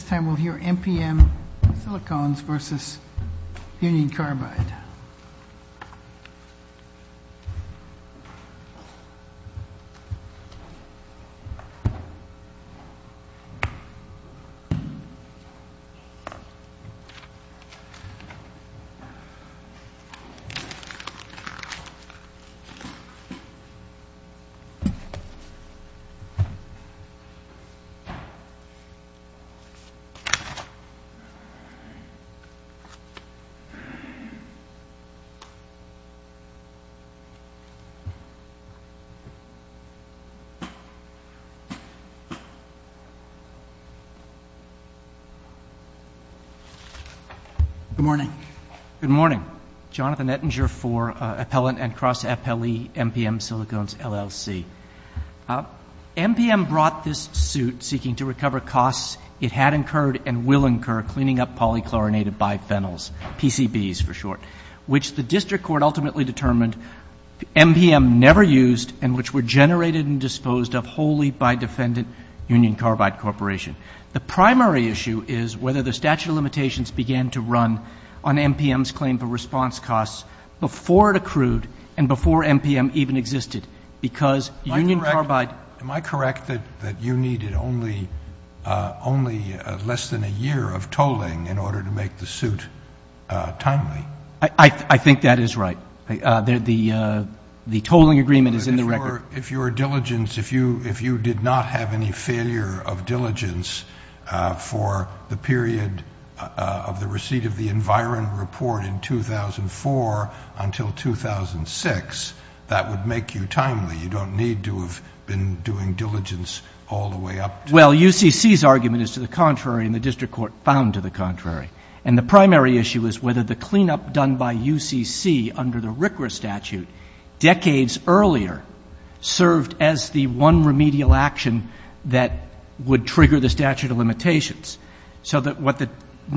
This time we'll hear MPM Silicones v. Union Carbide. Good morning. Good morning. Jonathan Ettinger for Appellant and Cross-Appellee MPM Silicones, LLC. MPM brought this suit seeking to recover costs it had incurred and will incur cleaning up polychlorinated biphenyls, PCBs for short, which the district court ultimately determined MPM never used and which were generated and disposed of wholly by defendant Union Carbide Corporation. The primary issue is whether the statute of limitations began to run on MPM's claim for response costs before it accrued and before MPM even existed, because Union Carbide Am I correct that you needed only less than a year of tolling in order to make the suit timely? I think that is right. The tolling agreement is in the record. If your diligence, if you did not have any failure of diligence for the period of the receipt of the Environ report in 2004 until 2006, that would make you timely. You don't need to have been doing diligence all the way up to... Well, UCC's argument is to the contrary and the district court found to the contrary. And the primary issue is whether the cleanup done by UCC under the RCRA statute decades earlier served as the one remedial action that would trigger the statute of limitations. So there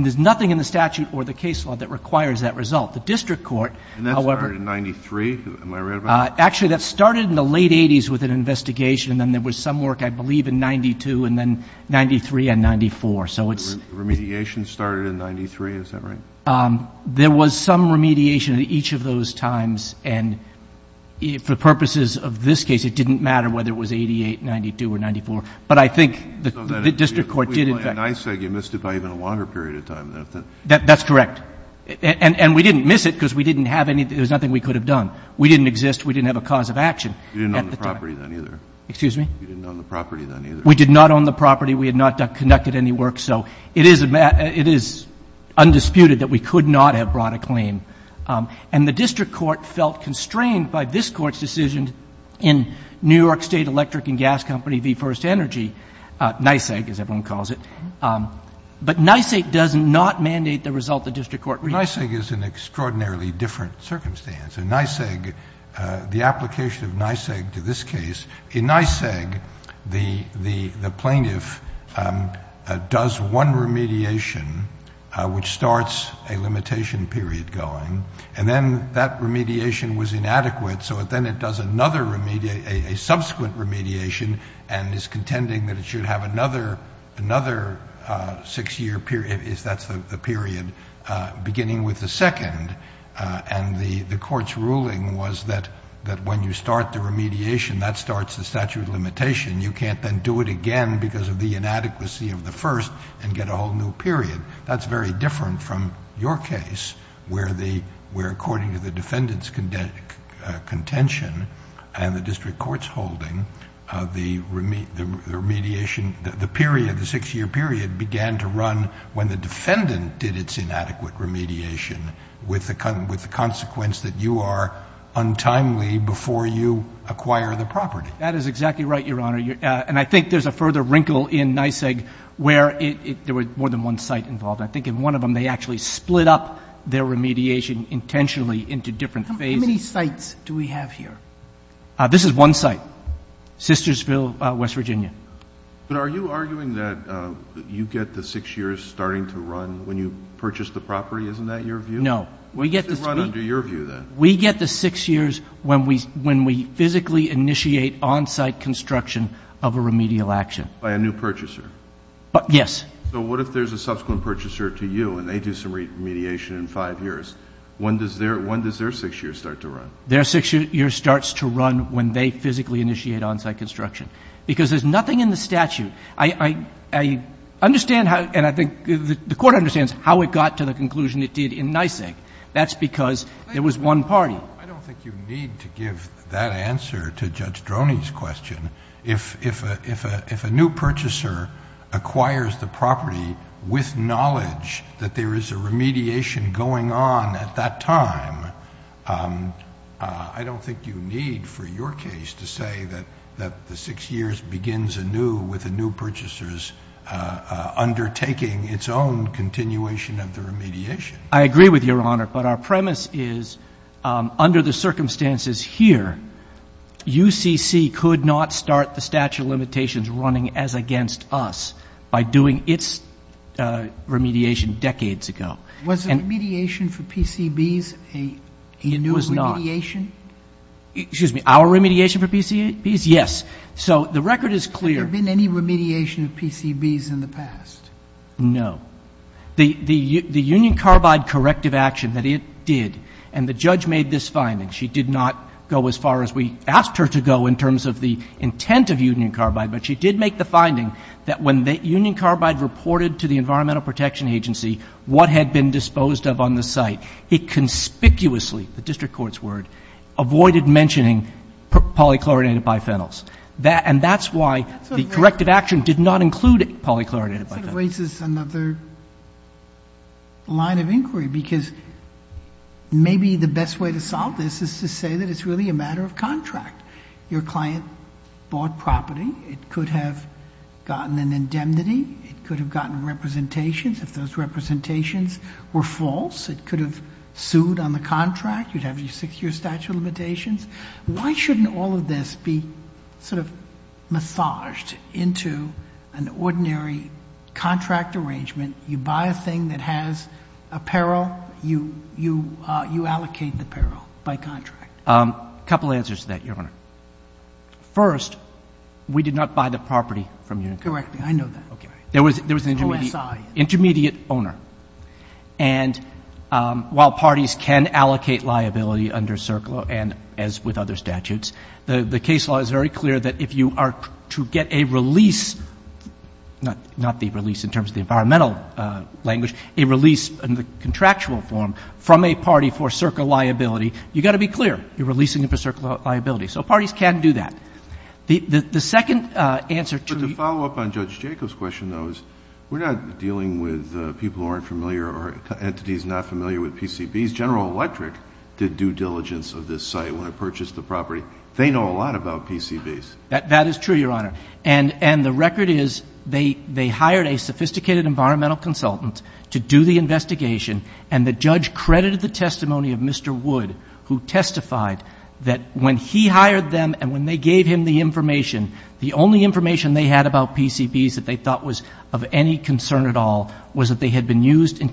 is nothing in the statute or the case law that requires that result. The district court, however... And that started in 93, am I right about that? Actually, that started in the late 80s with an investigation and then there was some work, I believe, in 92 and then 93 and 94. So it's... Remediation started in 93, is that right? There was some remediation at each of those times. And for purposes of this case, it didn't matter whether it was 88, 92 or 94. But I think the district court did in fact... Well, in NYSEG you missed it by even a longer period of time. That's correct. And we didn't miss it because we didn't have anything, there was nothing we could have done. We didn't exist. We didn't have a cause of action at the time. You didn't own the property then either. Excuse me? You didn't own the property then either. We did not own the property. We had not conducted any work. So it is undisputed that we could not have brought a claim. And the district court felt constrained by this Court's decision in New York State Electric and Gas Company v. First Energy, NYSEG as everyone calls it. But NYSEG does not mandate the result the district court... NYSEG is an extraordinarily different circumstance. In NYSEG, the application of NYSEG to this case, in NYSEG the plaintiff does one remediation, which starts a limitation period going. And then that remediation was inadequate. So then it does another remediation, a subsequent remediation, and is contending that it should have another six-year period, if that's the period, beginning with the second. And the Court's ruling was that when you start the remediation, that starts the statute of limitation. You can't then do it again because of the inadequacy of the first and get a whole new period. That's very different from your case, where according to the defendant's contention and the district court's holding, the remediation, the period, the six-year period began to run when the defendant did its inadequate remediation with the consequence that you are untimely before you acquire the property. That is exactly right, Your Honor. And I think there's a further wrinkle in NYSEG where there was more than one site involved. I think in one of them they actually split up their remediation intentionally into different phases. How many sites do we have here? This is one site, Sistersville, West Virginia. But are you arguing that you get the six years starting to run when you purchase the property? Isn't that your view? It should run under your view, then. We get the six years when we physically initiate on-site construction of a remedial action. By a new purchaser? Yes. So what if there's a subsequent purchaser to you and they do some remediation in five years? When does their six years start to run? Their six years starts to run when they physically initiate on-site construction because there's nothing in the statute. I understand how, and I think the Court understands how it got to the conclusion it did in NYSEG. That's because there was one party. I don't think you need to give that answer to Judge Droney's question. If a new purchaser acquires the property with knowledge that there is a remediation going on at that time, I don't think you need for your case to say that the six years begins anew with the new purchasers undertaking its own continuation of the remediation. I agree with Your Honor, but our premise is under the circumstances here, UCC could not start the statute of limitations running as against us by doing its remediation decades ago. Was the remediation for PCBs a new remediation? It was not. Excuse me, our remediation for PCBs? Yes. So the record is clear. Has there been any remediation of PCBs in the past? No. The Union Carbide corrective action that it did, and the judge made this finding, she did not go as far as we asked her to go in terms of the intent of Union Carbide, but she did make the finding that when Union Carbide reported to the Environmental Protection Agency what had been disposed of on the site, it conspicuously, the district court's word, avoided mentioning polychlorinated biphenyls. And that's why the corrective action did not include polychlorinated biphenyls. That sort of raises another line of inquiry, because maybe the best way to solve this is to say that it's really a matter of contract. Your client bought property. It could have gotten an indemnity. It could have gotten representations. If those representations were false, it could have sued on the contract. You'd have your six-year statute of limitations. Why shouldn't all of this be sort of massaged into an ordinary contract arrangement? You buy a thing that has apparel. You allocate the apparel by contract. A couple answers to that, Your Honor. First, we did not buy the property from Union Carbide. Correct me. Okay. There was an intermediate owner. And while parties can allocate liability under CERCLA and as with other statutes, the case law is very clear that if you are to get a release, not the release in terms of the environmental language, a release in the contractual form from a party for CERCLA liability, you've got to be clear. You're releasing them for CERCLA liability. So parties can do that. The second answer to the ---- Well, I think the second answer, Your Honor, was that the parties were not familiar with the PCBs. General Electric did due diligence of this site when it purchased the property. They know a lot about PCBs. That is true, Your Honor. And the record is they hired a sophisticated environmental consultant to do the investigation, and the judge credited the testimony of Mr. Wood, who testified that when he hired them and when they gave him the information, the only information they had about PCBs that they thought was of any concern at all was that they had been used in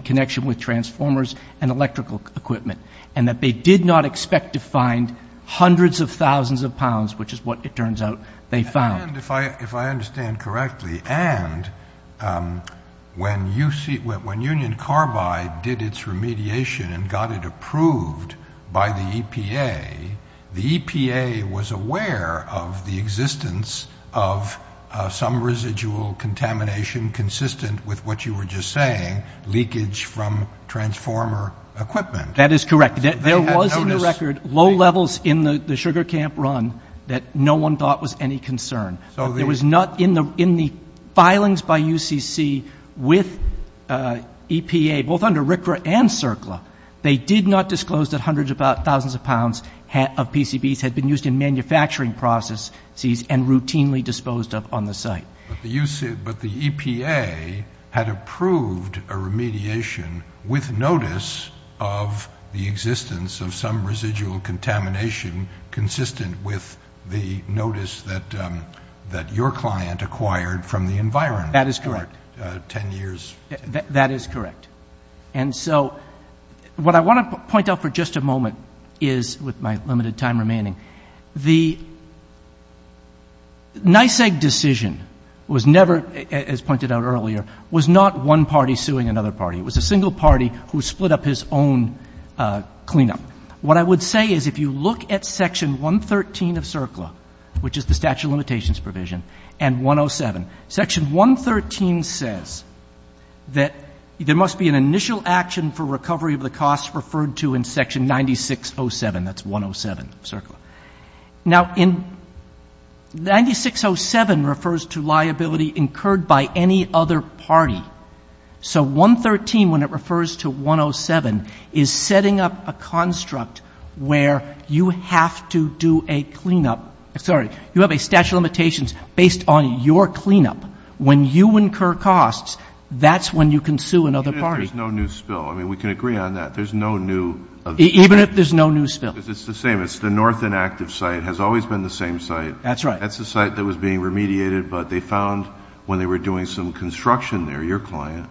connection with transformers and electrical equipment and that they did not expect to find hundreds of thousands of pounds, which is what it turns out they found. And if I understand correctly, and when Union Carbide did its remediation and got it approved by the EPA, the EPA was aware of the existence of some residual contamination consistent with what you were just saying, leakage from transformer equipment. That is correct. There was in the record low levels in the sugar camp run that no one thought was any concern. There was not in the filings by UCC with EPA, both under RCRA and CERCLA, they did not disclose that hundreds of thousands of pounds of PCBs had been used in manufacturing processes and routinely disposed of on the site. But the EPA had approved a remediation with notice of the existence of some residual contamination consistent with the notice that your client acquired from the environment for 10 years. That is correct. And so what I want to point out for just a moment is, with my limited time remaining, the NYSEG decision was never, as pointed out earlier, was not one party suing another party. It was a single party who split up his own cleanup. What I would say is if you look at Section 113 of CERCLA, which is the statute of limitations provision, and 107, Section 113 says that there must be an initial action for recovery of the cost referred to in Section 9607. That's 107 of CERCLA. Now, 9607 refers to liability incurred by any other party. So 113, when it refers to 107, is setting up a construct where you have to do a cleanup. Sorry. You have a statute of limitations based on your cleanup. When you incur costs, that's when you can sue another party. Even if there's no new spill. I mean, we can agree on that. There's no new. Even if there's no new spill. Because it's the same. It's the north inactive site. It has always been the same site. That's right. That's the site that was being remediated, but they found when they were doing some construction there, your client.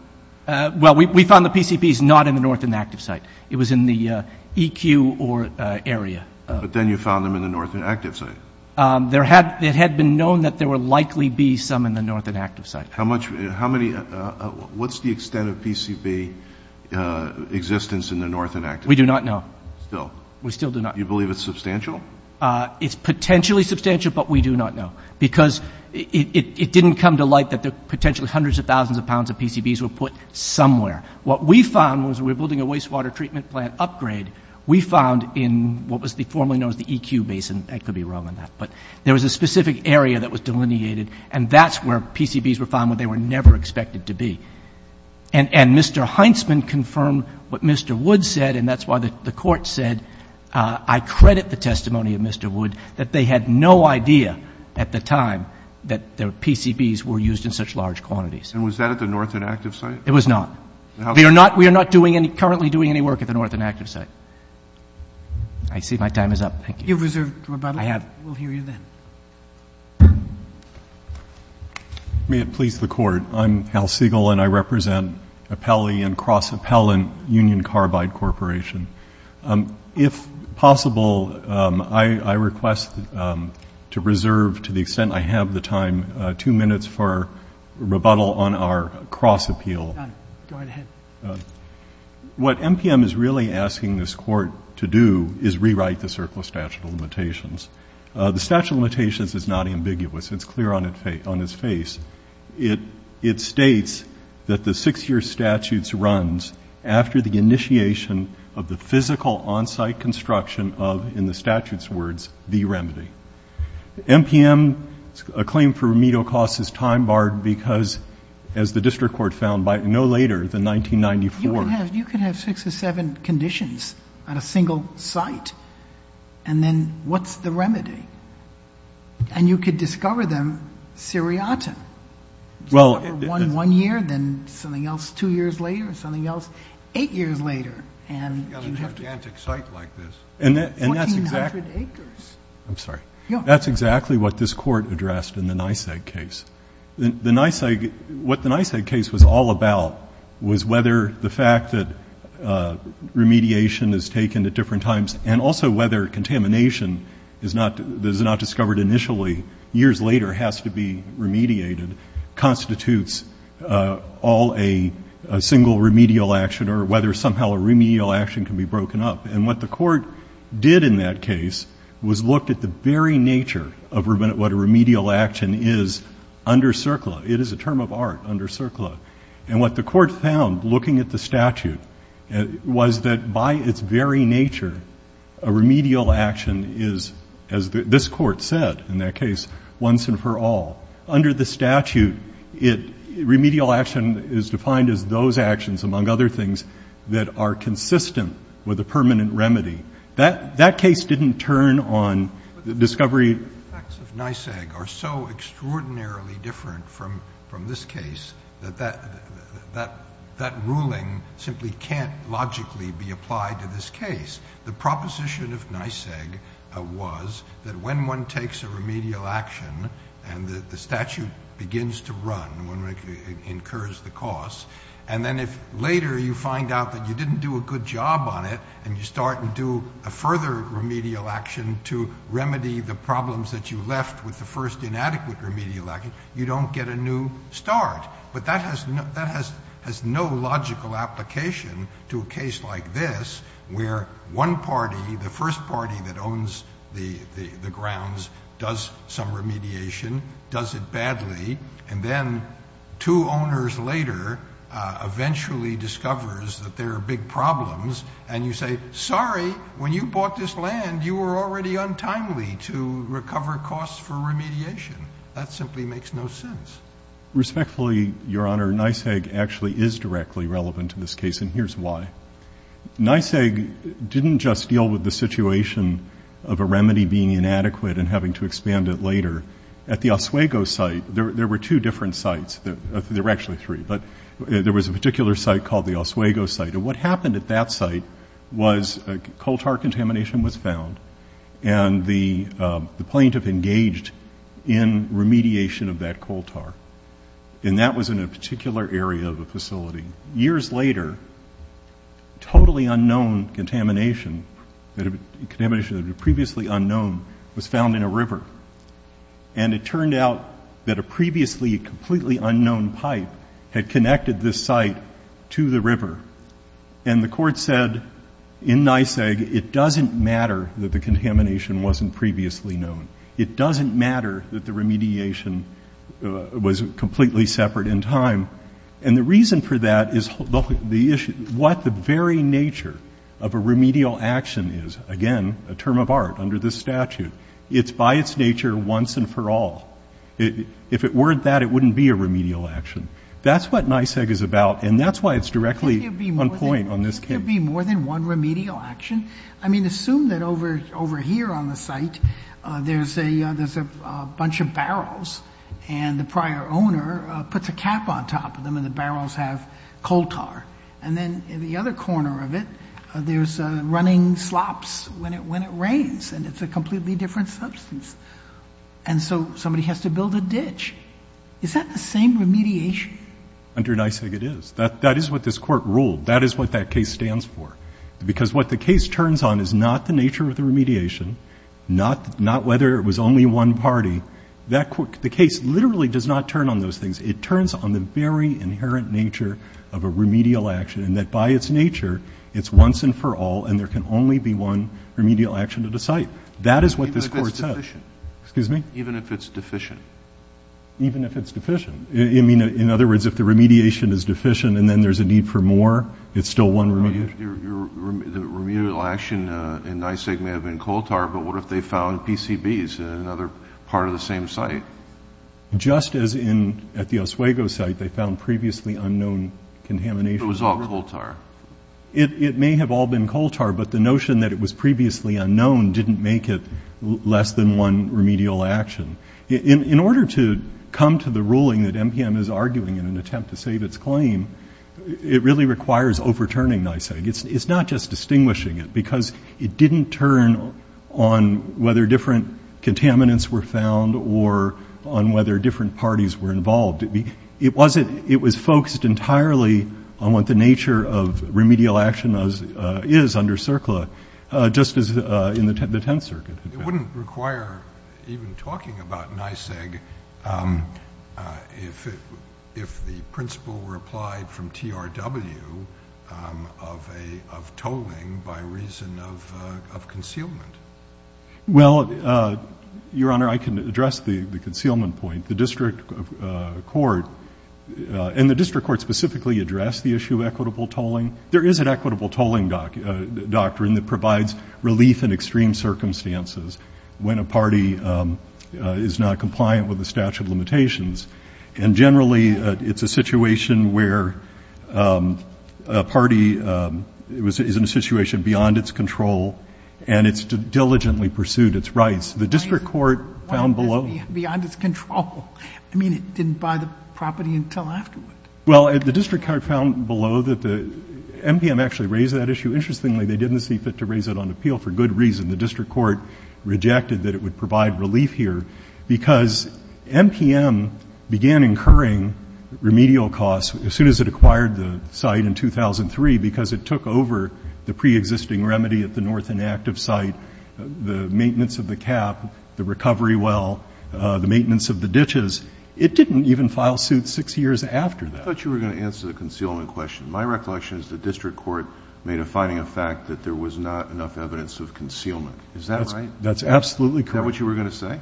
Well, we found the PCPs not in the north inactive site. It was in the EQ or area. But then you found them in the north inactive site. It had been known that there would likely be some in the north inactive site. What's the extent of PCB existence in the north inactive site? We do not know. Still? We still do not know. Do you believe it's substantial? It's potentially substantial, but we do not know. Because it didn't come to light that potentially hundreds of thousands of pounds of PCBs were put somewhere. What we found was when we were building a wastewater treatment plant upgrade, we found in what was formerly known as the EQ basin. I could be wrong on that. But there was a specific area that was delineated, and that's where PCBs were found when they were never expected to be. And Mr. Heintzman confirmed what Mr. Wood said, and that's why the court said, I credit the testimony of Mr. Wood, that they had no idea at the time that PCBs were used in such large quantities. And was that at the north inactive site? It was not. We are not currently doing any work at the north inactive site. I see my time is up. Thank you. You have reserved rebuttal? I have. We'll hear you then. May it please the Court. I'm Hal Siegel, and I represent Appelli and Cross Appellant Union Carbide Corporation. If possible, I request to reserve, to the extent I have the time, two minutes for rebuttal on our cross appeal. Done. Go right ahead. What MPM is really asking this Court to do is rewrite the Circle of Statute of Limitations. The Statute of Limitations is not ambiguous. It's clear on its face. It states that the six-year statute runs after the initiation of the physical on-site construction of, in the statute's words, the remedy. MPM, a claim for remedial costs is time-barred because, as the district court found no later than 1994. You can have six or seven conditions on a single site, and then what's the remedy? And you could discover them seriatim. One year, then something else two years later, something else eight years later. You've got a gigantic site like this. 1,400 acres. I'm sorry. That's exactly what this Court addressed in the Niseg case. What the Niseg case was all about was whether the fact that remediation is taken at different times and also whether contamination that is not discovered initially years later has to be remediated constitutes all a single remedial action or whether somehow a remedial action can be broken up. And what the Court did in that case was looked at the very nature of what a remedial action is under CERCLA. It is a term of art under CERCLA. And what the Court found looking at the statute was that by its very nature, a remedial action is, as this Court said in that case, once and for all. Under the statute, remedial action is defined as those actions, among other things, that are consistent with a permanent remedy. That case didn't turn on discovery. The facts of Niseg are so extraordinarily different from this case that that ruling simply can't logically be applied to this case. The proposition of Niseg was that when one takes a remedial action and the statute begins to run, one incurs the cost, and then if later you find out that you didn't do a good job on it and you start and do a further remedial action to remedy the problems that you left with the first inadequate remedial action, you don't get a new start. But that has no logical application to a case like this where one party, the first party that owns the grounds, does some remediation, does it badly, and then two owners later eventually discovers that there are big problems and you say, sorry, when you bought this land, you were already untimely to recover costs for remediation. That simply makes no sense. Respectfully, Your Honor, Niseg actually is directly relevant to this case, and here's why. Niseg didn't just deal with the situation of a remedy being inadequate and having to expand it later. At the Oswego site, there were two different sites. There were actually three, but there was a particular site called the Oswego site, and what happened at that site was coal tar contamination was found, and the plaintiff engaged in remediation of that coal tar, and that was in a particular area of the facility. Years later, totally unknown contamination, contamination that was previously unknown, was found in a river, and it turned out that a previously completely unknown pipe had connected this site to the river, and the court said in Niseg it doesn't matter that the contamination wasn't previously known. It doesn't matter that the remediation was completely separate in time, and the reason for that is what the very nature of a remedial action is. Again, a term of art under this statute. It's by its nature once and for all. If it weren't that, it wouldn't be a remedial action. That's what Niseg is about, and that's why it's directly on point on this case. Sotomayor. Could there be more than one remedial action? I mean, assume that over here on the site, there's a bunch of barrels, and the prior owner puts a cap on top of them, and the barrels have coal tar, and then in the other corner of it, there's running slops when it rains, and it's a completely different substance, and so somebody has to build a ditch. Is that the same remediation? Under Niseg, it is. That is what this court ruled. That is what that case stands for, because what the case turns on is not the nature of the remediation, not whether it was only one party. The case literally does not turn on those things. It turns on the very inherent nature of a remedial action, and that by its nature, it's once and for all, and there can only be one remedial action at a site. That is what this court said. Even if it's deficient? Excuse me? Even if it's deficient. Even if it's deficient. In other words, if the remediation is deficient, and then there's a need for more, it's still one remedial action. The remedial action in Niseg may have been coal tar, but what if they found PCBs in another part of the same site? Just as at the Oswego site, they found previously unknown contamination. It was all coal tar. It may have all been coal tar, but the notion that it was previously unknown didn't make it less than one remedial action. In order to come to the ruling that MPM is arguing in an attempt to save its claim, it really requires overturning Niseg. It's not just distinguishing it, because it didn't turn on whether different contaminants were found or on whether different parties were involved. It was focused entirely on what the nature of remedial action is under CERCLA, just as in the Tenth Circuit. It wouldn't require even talking about Niseg if the principle were applied from TRW of tolling by reason of concealment. Well, Your Honor, I can address the concealment point. The district court specifically addressed the issue of equitable tolling. There is an equitable tolling doctrine that provides relief in extreme circumstances when a party is not compliant with the statute of limitations. And generally, it's a situation where a party is in a situation beyond its control and it's diligently pursued its rights. The district court found below. Beyond its control. I mean, it didn't buy the property until afterward. Well, the district court found below that the MPM actually raised that issue. Interestingly, they didn't see fit to raise it on appeal for good reason. The district court rejected that it would provide relief here because MPM began incurring remedial costs as soon as it acquired the site in 2003 because it took over the preexisting remedy at the north inactive site, the maintenance of the cap, the recovery well, the maintenance of the ditches. It didn't even file suit six years after that. I thought you were going to answer the concealment question. My recollection is the district court made a finding of fact that there was not enough evidence of concealment. Is that right? That's absolutely correct. Is that what you were going to say?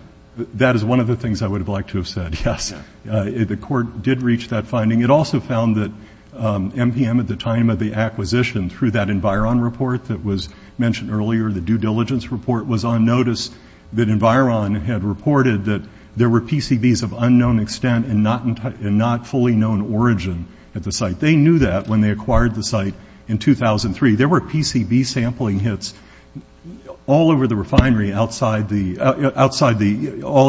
That is one of the things I would have liked to have said, yes. The court did reach that finding. It also found that MPM at the time of the acquisition through that Environ report that was mentioned earlier, the due diligence report was on notice that Environ had reported that there were PCBs of unknown extent and not fully known origin at the site. They knew that when they acquired the site in 2003. There were PCB sampling hits all over the refinery, all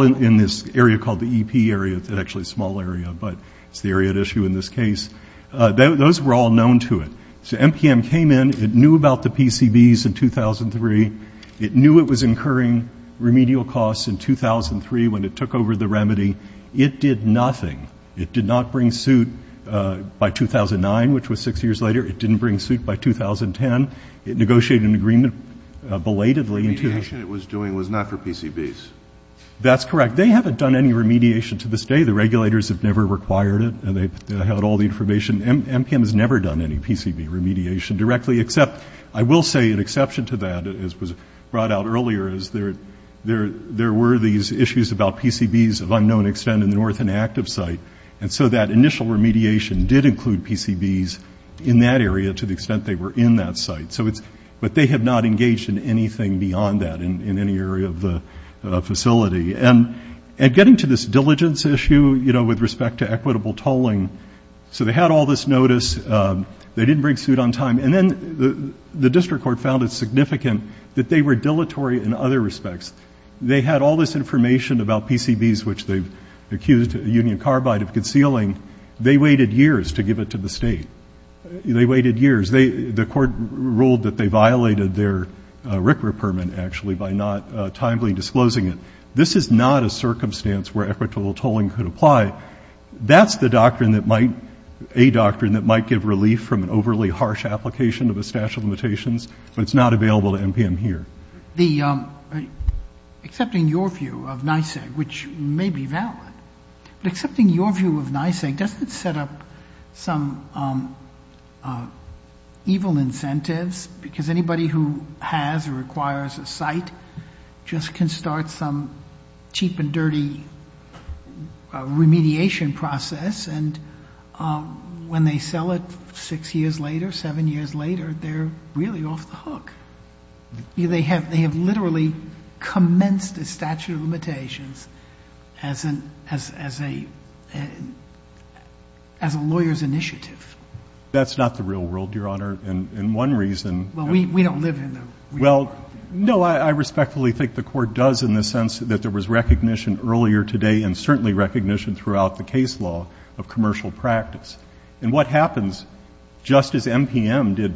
in this area called the EP area. It's actually a small area, but it's the area at issue in this case. Those were all known to it. So MPM came in. It knew about the PCBs in 2003. It knew it was incurring remedial costs in 2003 when it took over the remedy. It did nothing. It did not bring suit by 2009, which was six years later. It didn't bring suit by 2010. It negotiated an agreement belatedly. The remediation it was doing was not for PCBs. That's correct. They haven't done any remediation to this day. The regulators have never required it, and they've held all the information. MPM has never done any PCB remediation directly, except I will say an exception to that, as was brought out earlier, is there were these issues about PCBs of unknown extent in the north and active site. And so that initial remediation did include PCBs in that area to the extent they were in that site. But they have not engaged in anything beyond that in any area of the facility. And getting to this diligence issue, you know, with respect to equitable tolling, so they had all this notice. They didn't bring suit on time. And then the district court found it significant that they were dilatory in other respects. They had all this information about PCBs, which they've accused Union Carbide of concealing. They waited years to give it to the state. They waited years. The court ruled that they violated their RCRA permit, actually, by not timely disclosing it. This is not a circumstance where equitable tolling could apply. That's the doctrine that might, a doctrine that might give relief from an overly harsh application of a statute of limitations. But it's not available to NPM here. The, accepting your view of NYSEG, which may be valid, but accepting your view of NYSEG, doesn't it set up some evil incentives? Because anybody who has or acquires a site just can start some cheap and dirty remediation process. And when they sell it six years later, seven years later, they're really off the hook. They have literally commenced a statute of limitations as a lawyer's initiative. That's not the real world, Your Honor. And one reason. Well, we don't live in the real world. Well, no, I respectfully think the court does in the sense that there was recognition earlier today and certainly recognition throughout the case law of commercial practice. And what happens, just as NPM did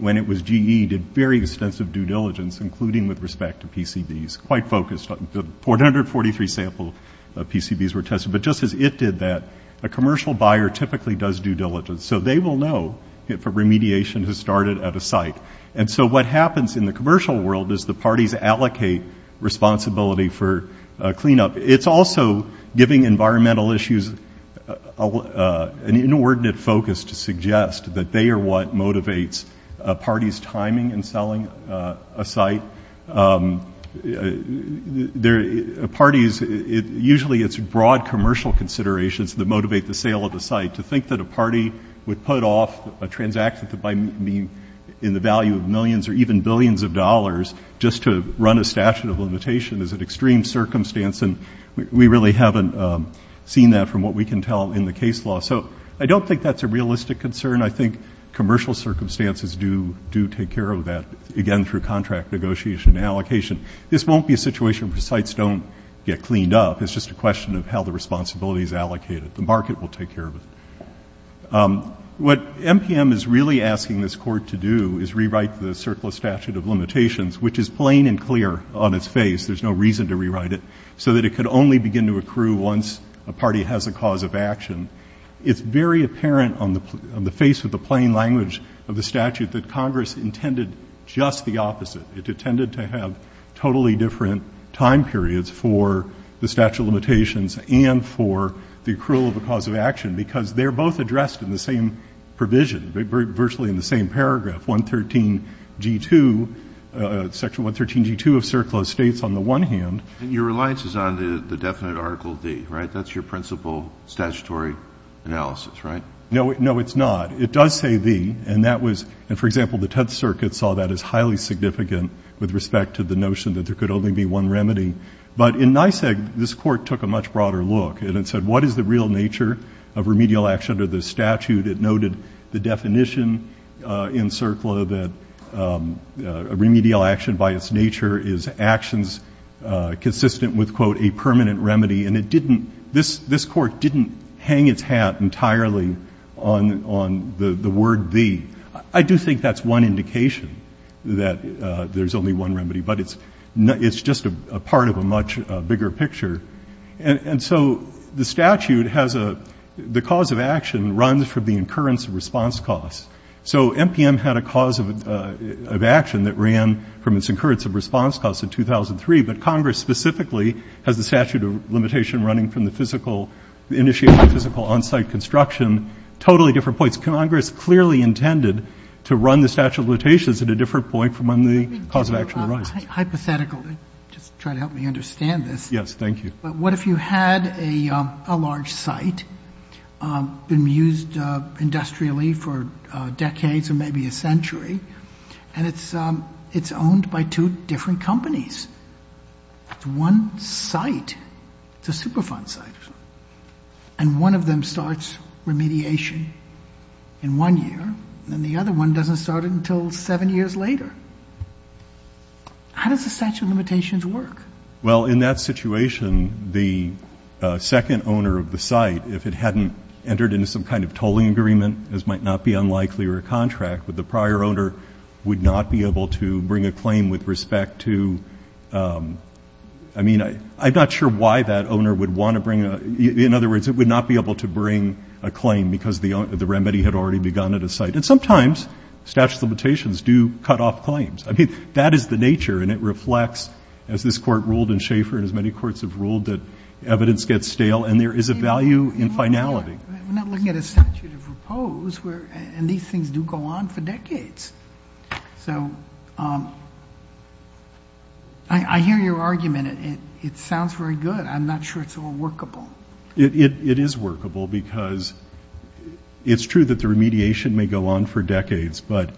when it was GE, did very extensive due diligence, including with respect to PCBs, quite focused. About 143 sample PCBs were tested. But just as it did that, a commercial buyer typically does due diligence. So they will know if a remediation has started at a site. And so what happens in the commercial world is the parties allocate responsibility for cleanup. It's also giving environmental issues an inordinate focus to suggest that they are what motivates parties timing and selling a site. Parties, usually it's broad commercial considerations that motivate the sale of the site. To think that a party would put off a transaction in the value of millions or even billions of dollars just to run a statute of limitation is an extreme circumstance. And we really haven't seen that from what we can tell in the case law. So I don't think that's a realistic concern. I think commercial circumstances do take care of that, again, through contract negotiation and allocation. This won't be a situation where sites don't get cleaned up. It's just a question of how the responsibility is allocated. The market will take care of it. What MPM is really asking this Court to do is rewrite the Circular Statute of Limitations, which is plain and clear on its face. There's no reason to rewrite it, so that it could only begin to accrue once a party has a cause of action. It's very apparent on the face of the plain language of the statute that Congress intended just the opposite. It intended to have totally different time periods for the statute of limitations and for the accrual of a cause of action because they're both addressed in the same provision, virtually in the same paragraph, Section 113G2 of Circular States on the one hand. And your reliance is on the definite Article D, right? That's your principal statutory analysis, right? No, it's not. It does say the, and that was, for example, the Tenth Circuit saw that as highly significant with respect to the notion that there could only be one remedy. But in NYSEG, this Court took a much broader look, and it said, what is the real nature of remedial action under this statute? It noted the definition in CIRCLA that remedial action by its nature is actions consistent with, quote, and it didn't, this Court didn't hang its hat entirely on the word the. I do think that's one indication that there's only one remedy, but it's just a part of a much bigger picture. And so the statute has a, the cause of action runs from the incurrence of response costs. So MPM had a cause of action that ran from its incurrence of response costs in 2003, but Congress specifically has the statute of limitation running from the physical, initiating physical on-site construction, totally different points. Congress clearly intended to run the statute of limitations at a different point from when the cause of action arises. Hypothetically, just try to help me understand this. Yes, thank you. But what if you had a large site, been used industrially for decades or maybe a century, and it's owned by two different companies? It's one site. It's a Superfund site. And one of them starts remediation in one year, and the other one doesn't start until seven years later. How does the statute of limitations work? Well, in that situation, the second owner of the site, if it hadn't entered into some kind of tolling agreement, as might not be unlikely or a contract with the prior owner, would not be able to bring a claim with respect to, I mean, I'm not sure why that owner would want to bring a, in other words, it would not be able to bring a claim because the remedy had already begun at a site. And sometimes statute of limitations do cut off claims. I mean, that is the nature, and it reflects, as this Court ruled in Schaefer and as many courts have ruled, that evidence gets stale, and there is a value in finality. We're not looking at a statute of repose, and these things do go on for decades. So I hear your argument. It sounds very good. I'm not sure it's all workable. It is workable because it's true that the remediation may go on for decades, but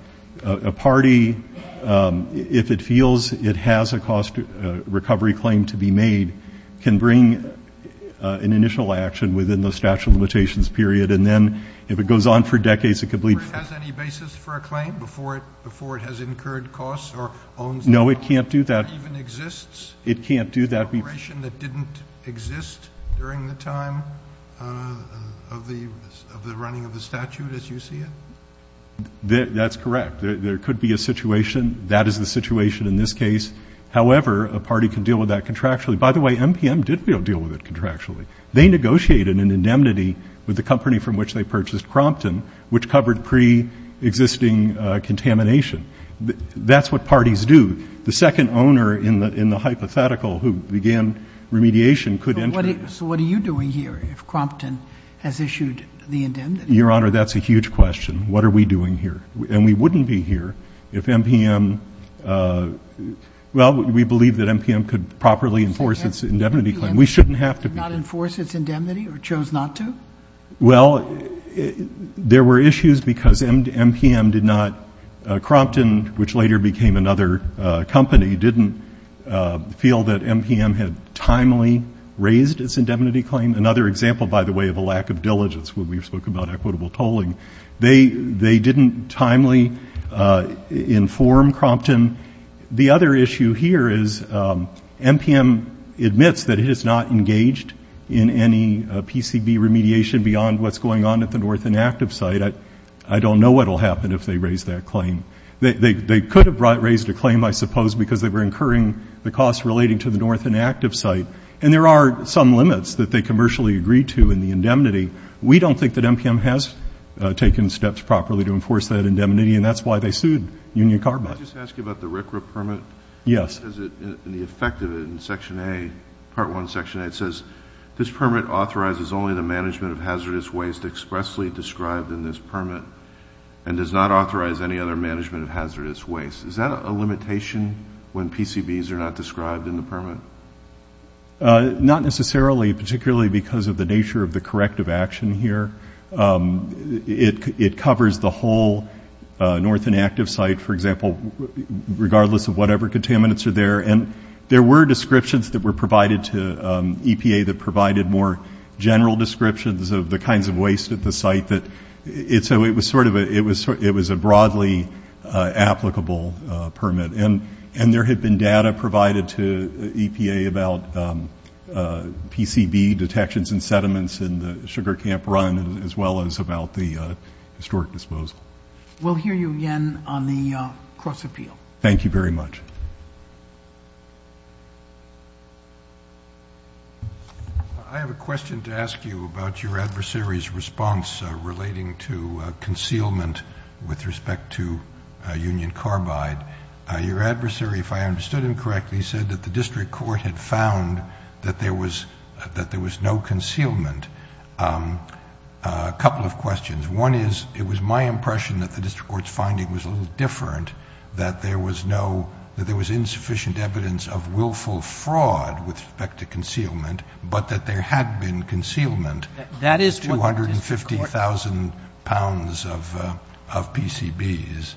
a party, if it feels it has a cost recovery claim to be made, can bring an initial action within the statute of limitations period. And then if it goes on for decades, it could leave. The Court has any basis for a claim before it has incurred costs or owns the property? No, it can't do that. It even exists? It can't do that. An operation that didn't exist during the time of the running of the statute, as you see it? That's correct. There could be a situation. That is the situation in this case. However, a party can deal with that contractually. By the way, MPM did deal with it contractually. They negotiated an indemnity with the company from which they purchased Crompton, which covered preexisting contamination. That's what parties do. The second owner in the hypothetical who began remediation could enter it. So what are you doing here if Crompton has issued the indemnity? Your Honor, that's a huge question. What are we doing here? And we wouldn't be here if MPM, well, we believe that MPM could properly enforce its indemnity claim. We shouldn't have to be here. MPM did not enforce its indemnity or chose not to? Well, there were issues because MPM did not, Crompton, which later became another company, didn't feel that MPM had timely raised its indemnity claim. Another example, by the way, of a lack of diligence when we spoke about equitable tolling. They didn't timely inform Crompton. The other issue here is MPM admits that it has not engaged in any PCB remediation beyond what's going on at the North Inactive site. I don't know what will happen if they raise that claim. They could have raised a claim, I suppose, because they were incurring the costs relating to the North Inactive site. And there are some limits that they commercially agreed to in the indemnity. We don't think that MPM has taken steps properly to enforce that indemnity, and that's why they sued Union Carbide. Can I just ask you about the RCRA permit? Yes. The effect of it in Section A, Part 1, Section A, it says, this permit authorizes only the management of hazardous waste expressly described in this permit and does not authorize any other management of hazardous waste. Not necessarily, particularly because of the nature of the corrective action here. It covers the whole North Inactive site, for example, regardless of whatever contaminants are there. And there were descriptions that were provided to EPA that provided more general descriptions of the kinds of waste at the site. So it was a broadly applicable permit. And there had been data provided to EPA about PCB detections and sediments in the sugar camp run, as well as about the historic disposal. We'll hear you again on the cross-appeal. Thank you very much. I have a question to ask you about your adversary's response relating to concealment with respect to Union Carbide. Your adversary, if I understood him correctly, said that the district court had found that there was no concealment. A couple of questions. One is, it was my impression that the district court's finding was a little different, that there was insufficient evidence of willful fraud with respect to concealment, but that there had been concealment of 250,000 pounds of PCBs.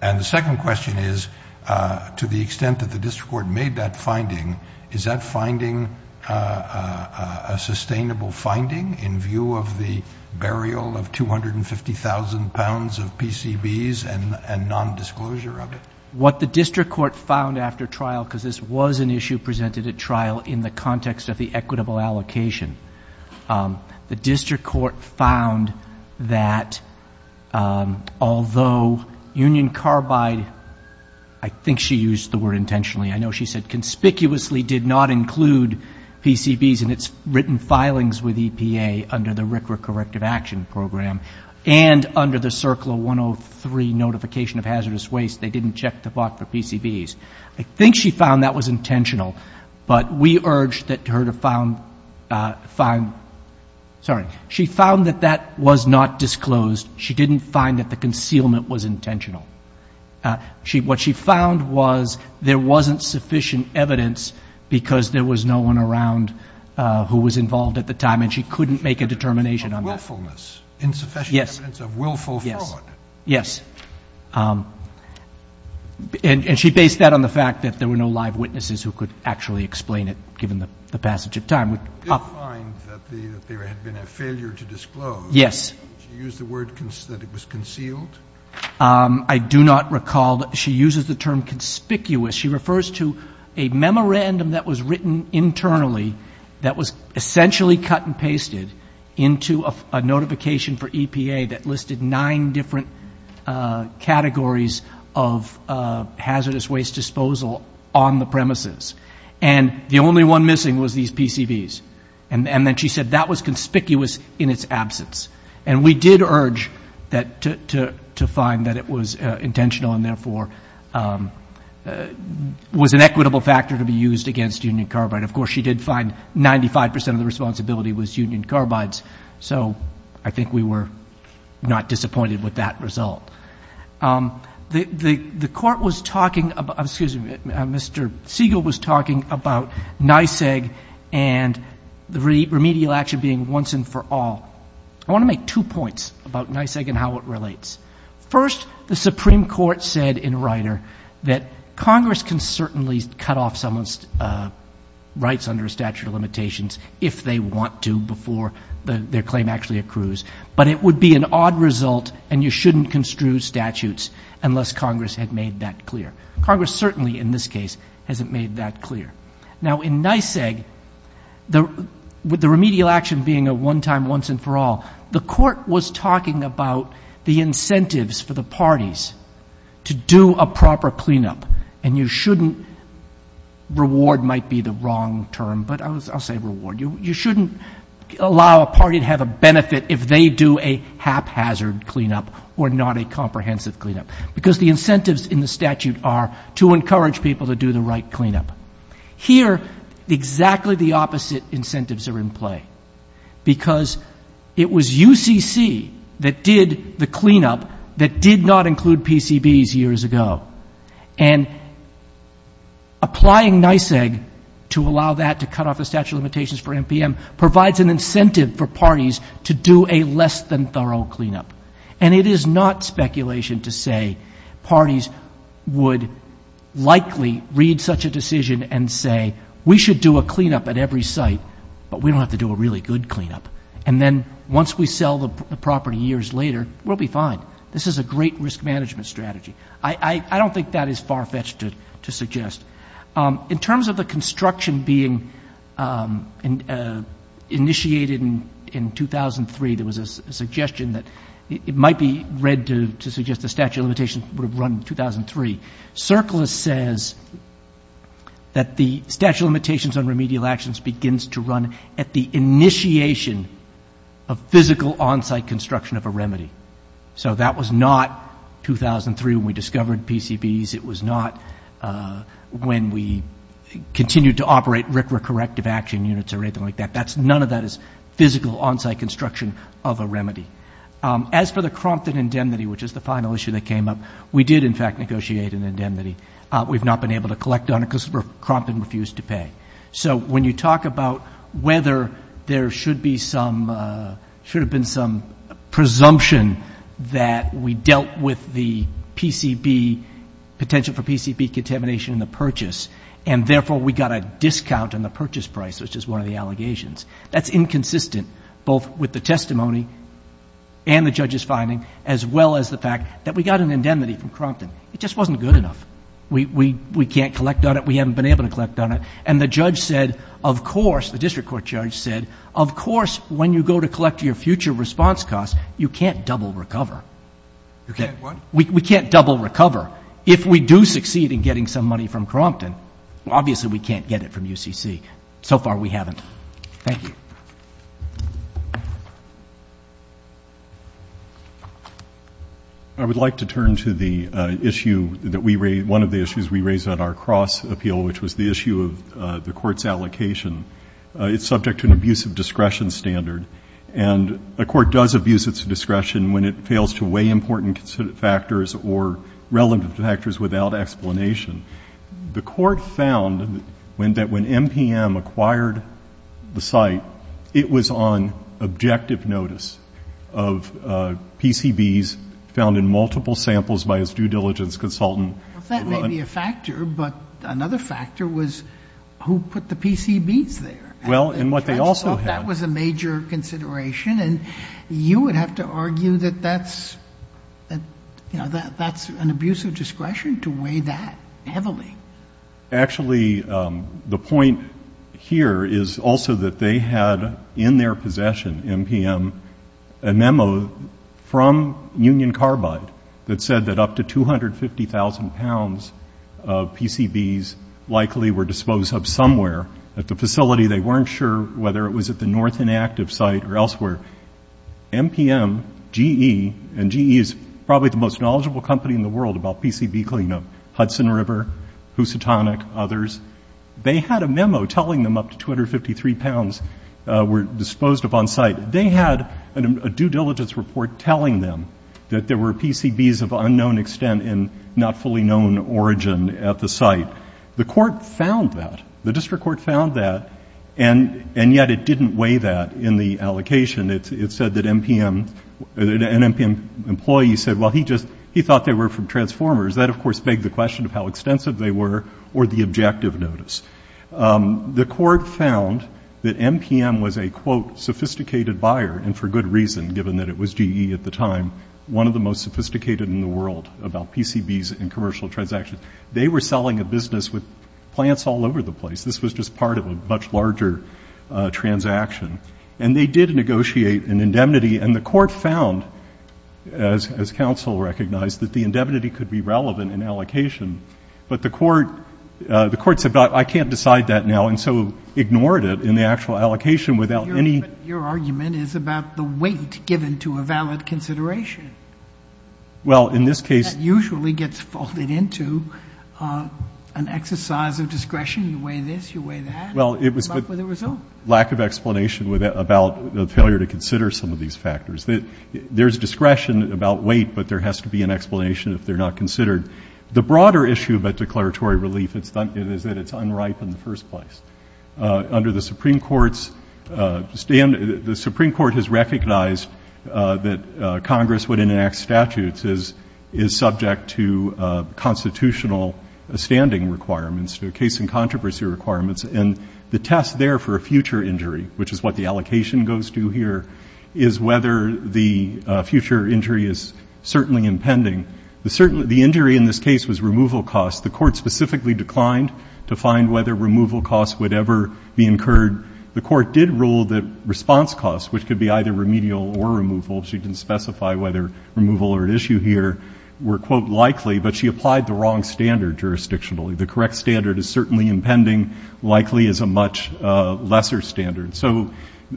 And the second question is, to the extent that the district court made that finding, is that finding a sustainable finding in view of the burial of 250,000 pounds of PCBs and nondisclosure of it? What the district court found after trial, because this was an issue presented at trial in the context of the equitable allocation, the district court found that although Union Carbide, I think she used the word intentionally, I know she said conspicuously did not include PCBs in its written filings with EPA under the RCRA Corrective Action Program, and under the CERCLA 103 Notification of Hazardous Waste, they didn't check the box for PCBs. I think she found that was intentional, but we urged her to find, sorry, she found that that was not disclosed. She didn't find that the concealment was intentional. What she found was there wasn't sufficient evidence because there was no one around who was involved at the time, and she couldn't make a determination on that. Willfulness. Insufficient evidence of willful fraud. Yes. Yes. And she based that on the fact that there were no live witnesses who could actually explain it, given the passage of time. She did find that there had been a failure to disclose. Yes. She used the word that it was concealed. I do not recall that she uses the term conspicuous. She refers to a memorandum that was written internally that was essentially cut and pasted into a notification for EPA that listed nine different categories of hazardous waste disposal on the premises. And the only one missing was these PCBs. And then she said that was conspicuous in its absence. And we did urge to find that it was intentional and, therefore, was an equitable factor to be used against union carbide. Of course, she did find 95% of the responsibility was union carbides, so I think we were not disappointed with that result. The Court was talking about, excuse me, Mr. Siegel was talking about NISEG and the remedial action being once and for all. I want to make two points about NISEG and how it relates. First, the Supreme Court said in Ryder that Congress can certainly cut off someone's rights under a statute of limitations if they want to before their claim actually accrues, but it would be an odd result and you shouldn't construe statutes unless Congress had made that clear. Congress certainly, in this case, hasn't made that clear. Now, in NISEG, with the remedial action being a one-time, once-and-for-all, the Court was talking about the incentives for the parties to do a proper cleanup. And you shouldn't reward might be the wrong term, but I'll say reward. You shouldn't allow a party to have a benefit if they do a haphazard cleanup or not a comprehensive cleanup, because the incentives in the statute are to encourage people to do the right cleanup. Here, exactly the opposite incentives are in play, because it was UCC that did the cleanup that did not include PCBs years ago. And applying NISEG to allow that to cut off the statute of limitations for MPM provides an incentive for parties to do a less-than-thorough cleanup. And it is not speculation to say parties would likely read such a decision and say we should do a cleanup at every site, but we don't have to do a really good cleanup. And then once we sell the property years later, we'll be fine. This is a great risk management strategy. I don't think that is far-fetched to suggest. In terms of the construction being initiated in 2003, there was a suggestion that it might be read to suggest the statute of limitations would have run in 2003. CERCLA says that the statute of limitations on remedial actions begins to run at the initiation of physical on-site construction of a remedy. So that was not 2003 when we discovered PCBs. It was not when we continued to operate RCRA corrective action units or anything like that. None of that is physical on-site construction of a remedy. As for the Crompton indemnity, which is the final issue that came up, we did, in fact, negotiate an indemnity. We've not been able to collect on it because Crompton refused to pay. So when you talk about whether there should be some, should have been some presumption that we dealt with the PCB, potential for PCB contamination in the purchase, and therefore we got a discount on the purchase price, which is one of the allegations, that's inconsistent both with the testimony and the judge's finding, as well as the fact that we got an indemnity from Crompton. It just wasn't good enough. We can't collect on it. We haven't been able to collect on it. And the judge said, of course, the district court judge said, of course when you go to collect your future response costs, you can't double recover. We can't double recover. If we do succeed in getting some money from Crompton, obviously we can't get it from UCC. So far we haven't. Thank you. Thank you. I would like to turn to the issue that we raised, one of the issues we raised at our cross appeal, which was the issue of the court's allocation. It's subject to an abuse of discretion standard. And a court does abuse its discretion when it fails to weigh important factors or relevant factors without explanation. The court found that when MPM acquired the site, it was on objective notice of PCBs found in multiple samples by its due diligence consultant. That may be a factor, but another factor was who put the PCBs there. Well, and what they also had. That was a major consideration. And you would have to argue that that's an abuse of discretion to weigh that heavily. Actually, the point here is also that they had in their possession, MPM, a memo from Union Carbide that said that up to 250,000 pounds of PCBs likely were disposed of somewhere. At the facility, they weren't sure whether it was at the north inactive site or elsewhere. MPM, GE, and GE is probably the most knowledgeable company in the world about PCB cleanup, Hudson River, Housatonic, others. They had a memo telling them up to 253 pounds were disposed of on site. They had a due diligence report telling them that there were PCBs of unknown extent and not fully known origin at the site. Now, the court found that. The district court found that, and yet it didn't weigh that in the allocation. It said that MPM, an MPM employee said, well, he thought they were from Transformers. That, of course, begs the question of how extensive they were or the objective notice. The court found that MPM was a, quote, sophisticated buyer and for good reason given that it was GE at the time, one of the most sophisticated in the world about PCBs and commercial transactions. They were selling a business with plants all over the place. This was just part of a much larger transaction. And they did negotiate an indemnity, and the court found, as counsel recognized, that the indemnity could be relevant in allocation. But the court, the court said, but I can't decide that now, and so ignored it in the actual allocation without any. Sotomayor Your argument is about the weight given to a valid consideration. Well, in this case. That usually gets folded into an exercise of discretion. You weigh this, you weigh that. Well, it was. But with a result. Lack of explanation about the failure to consider some of these factors. There's discretion about weight, but there has to be an explanation if they're not considered. The broader issue about declaratory relief is that it's unripe in the first place. Under the Supreme Court's stand, the Supreme Court has recognized that Congress would enact statutes is, is subject to constitutional standing requirements to a case in controversy requirements. And the test there for a future injury, which is what the allocation goes to here, is whether the future injury is certainly impending. The injury in this case was removal costs. The court specifically declined to find whether removal costs would ever be incurred. The court did rule that response costs, which could be either remedial or removal, she didn't specify whether removal or an issue here were, quote, likely, but she applied the wrong standard jurisdictionally. The correct standard is certainly impending, likely is a much lesser standard. So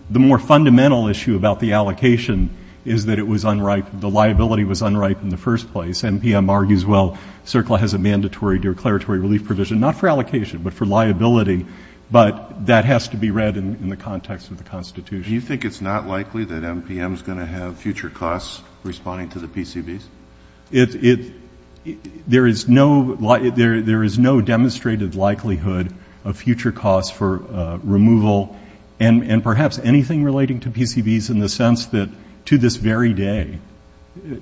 the more fundamental issue about the allocation is that it was unripe, the liability was unripe in the first place. MPM argues, well, CERCLA has a mandatory declaratory relief provision, not for allocation but for liability, but that has to be read in the context of the Constitution. Do you think it's not likely that MPM is going to have future costs responding to the PCBs? There is no demonstrated likelihood of future costs for removal and perhaps anything relating to PCBs in the sense that to this very day,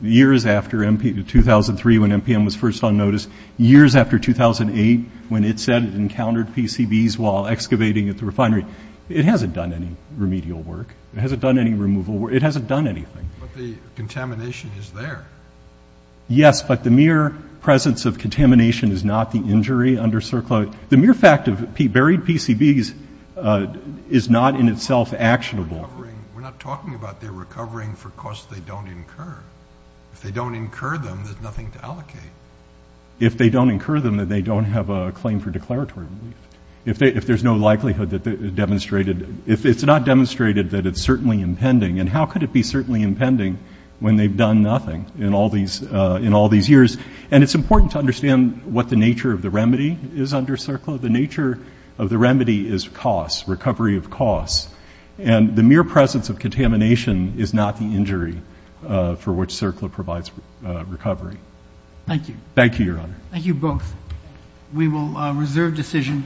years after 2003 when MPM was first on notice, years after 2008 when it said it encountered PCBs while excavating at the refinery, it hasn't done any remedial work. It hasn't done any removal work. It hasn't done anything. But the contamination is there. Yes, but the mere presence of contamination is not the injury under CERCLA. The mere fact of buried PCBs is not in itself actionable. We're not talking about their recovering for costs they don't incur. If they don't incur them, there's nothing to allocate. If they don't incur them, then they don't have a claim for declaratory relief. If there's no likelihood that it's demonstrated, if it's not demonstrated that it's certainly impending, then how could it be certainly impending when they've done nothing in all these years? And it's important to understand what the nature of the remedy is under CERCLA. The nature of the remedy is costs, recovery of costs. And the mere presence of contamination is not the injury for which CERCLA provides recovery. Thank you. Thank you, Your Honor. Thank you both. We will reserve decision.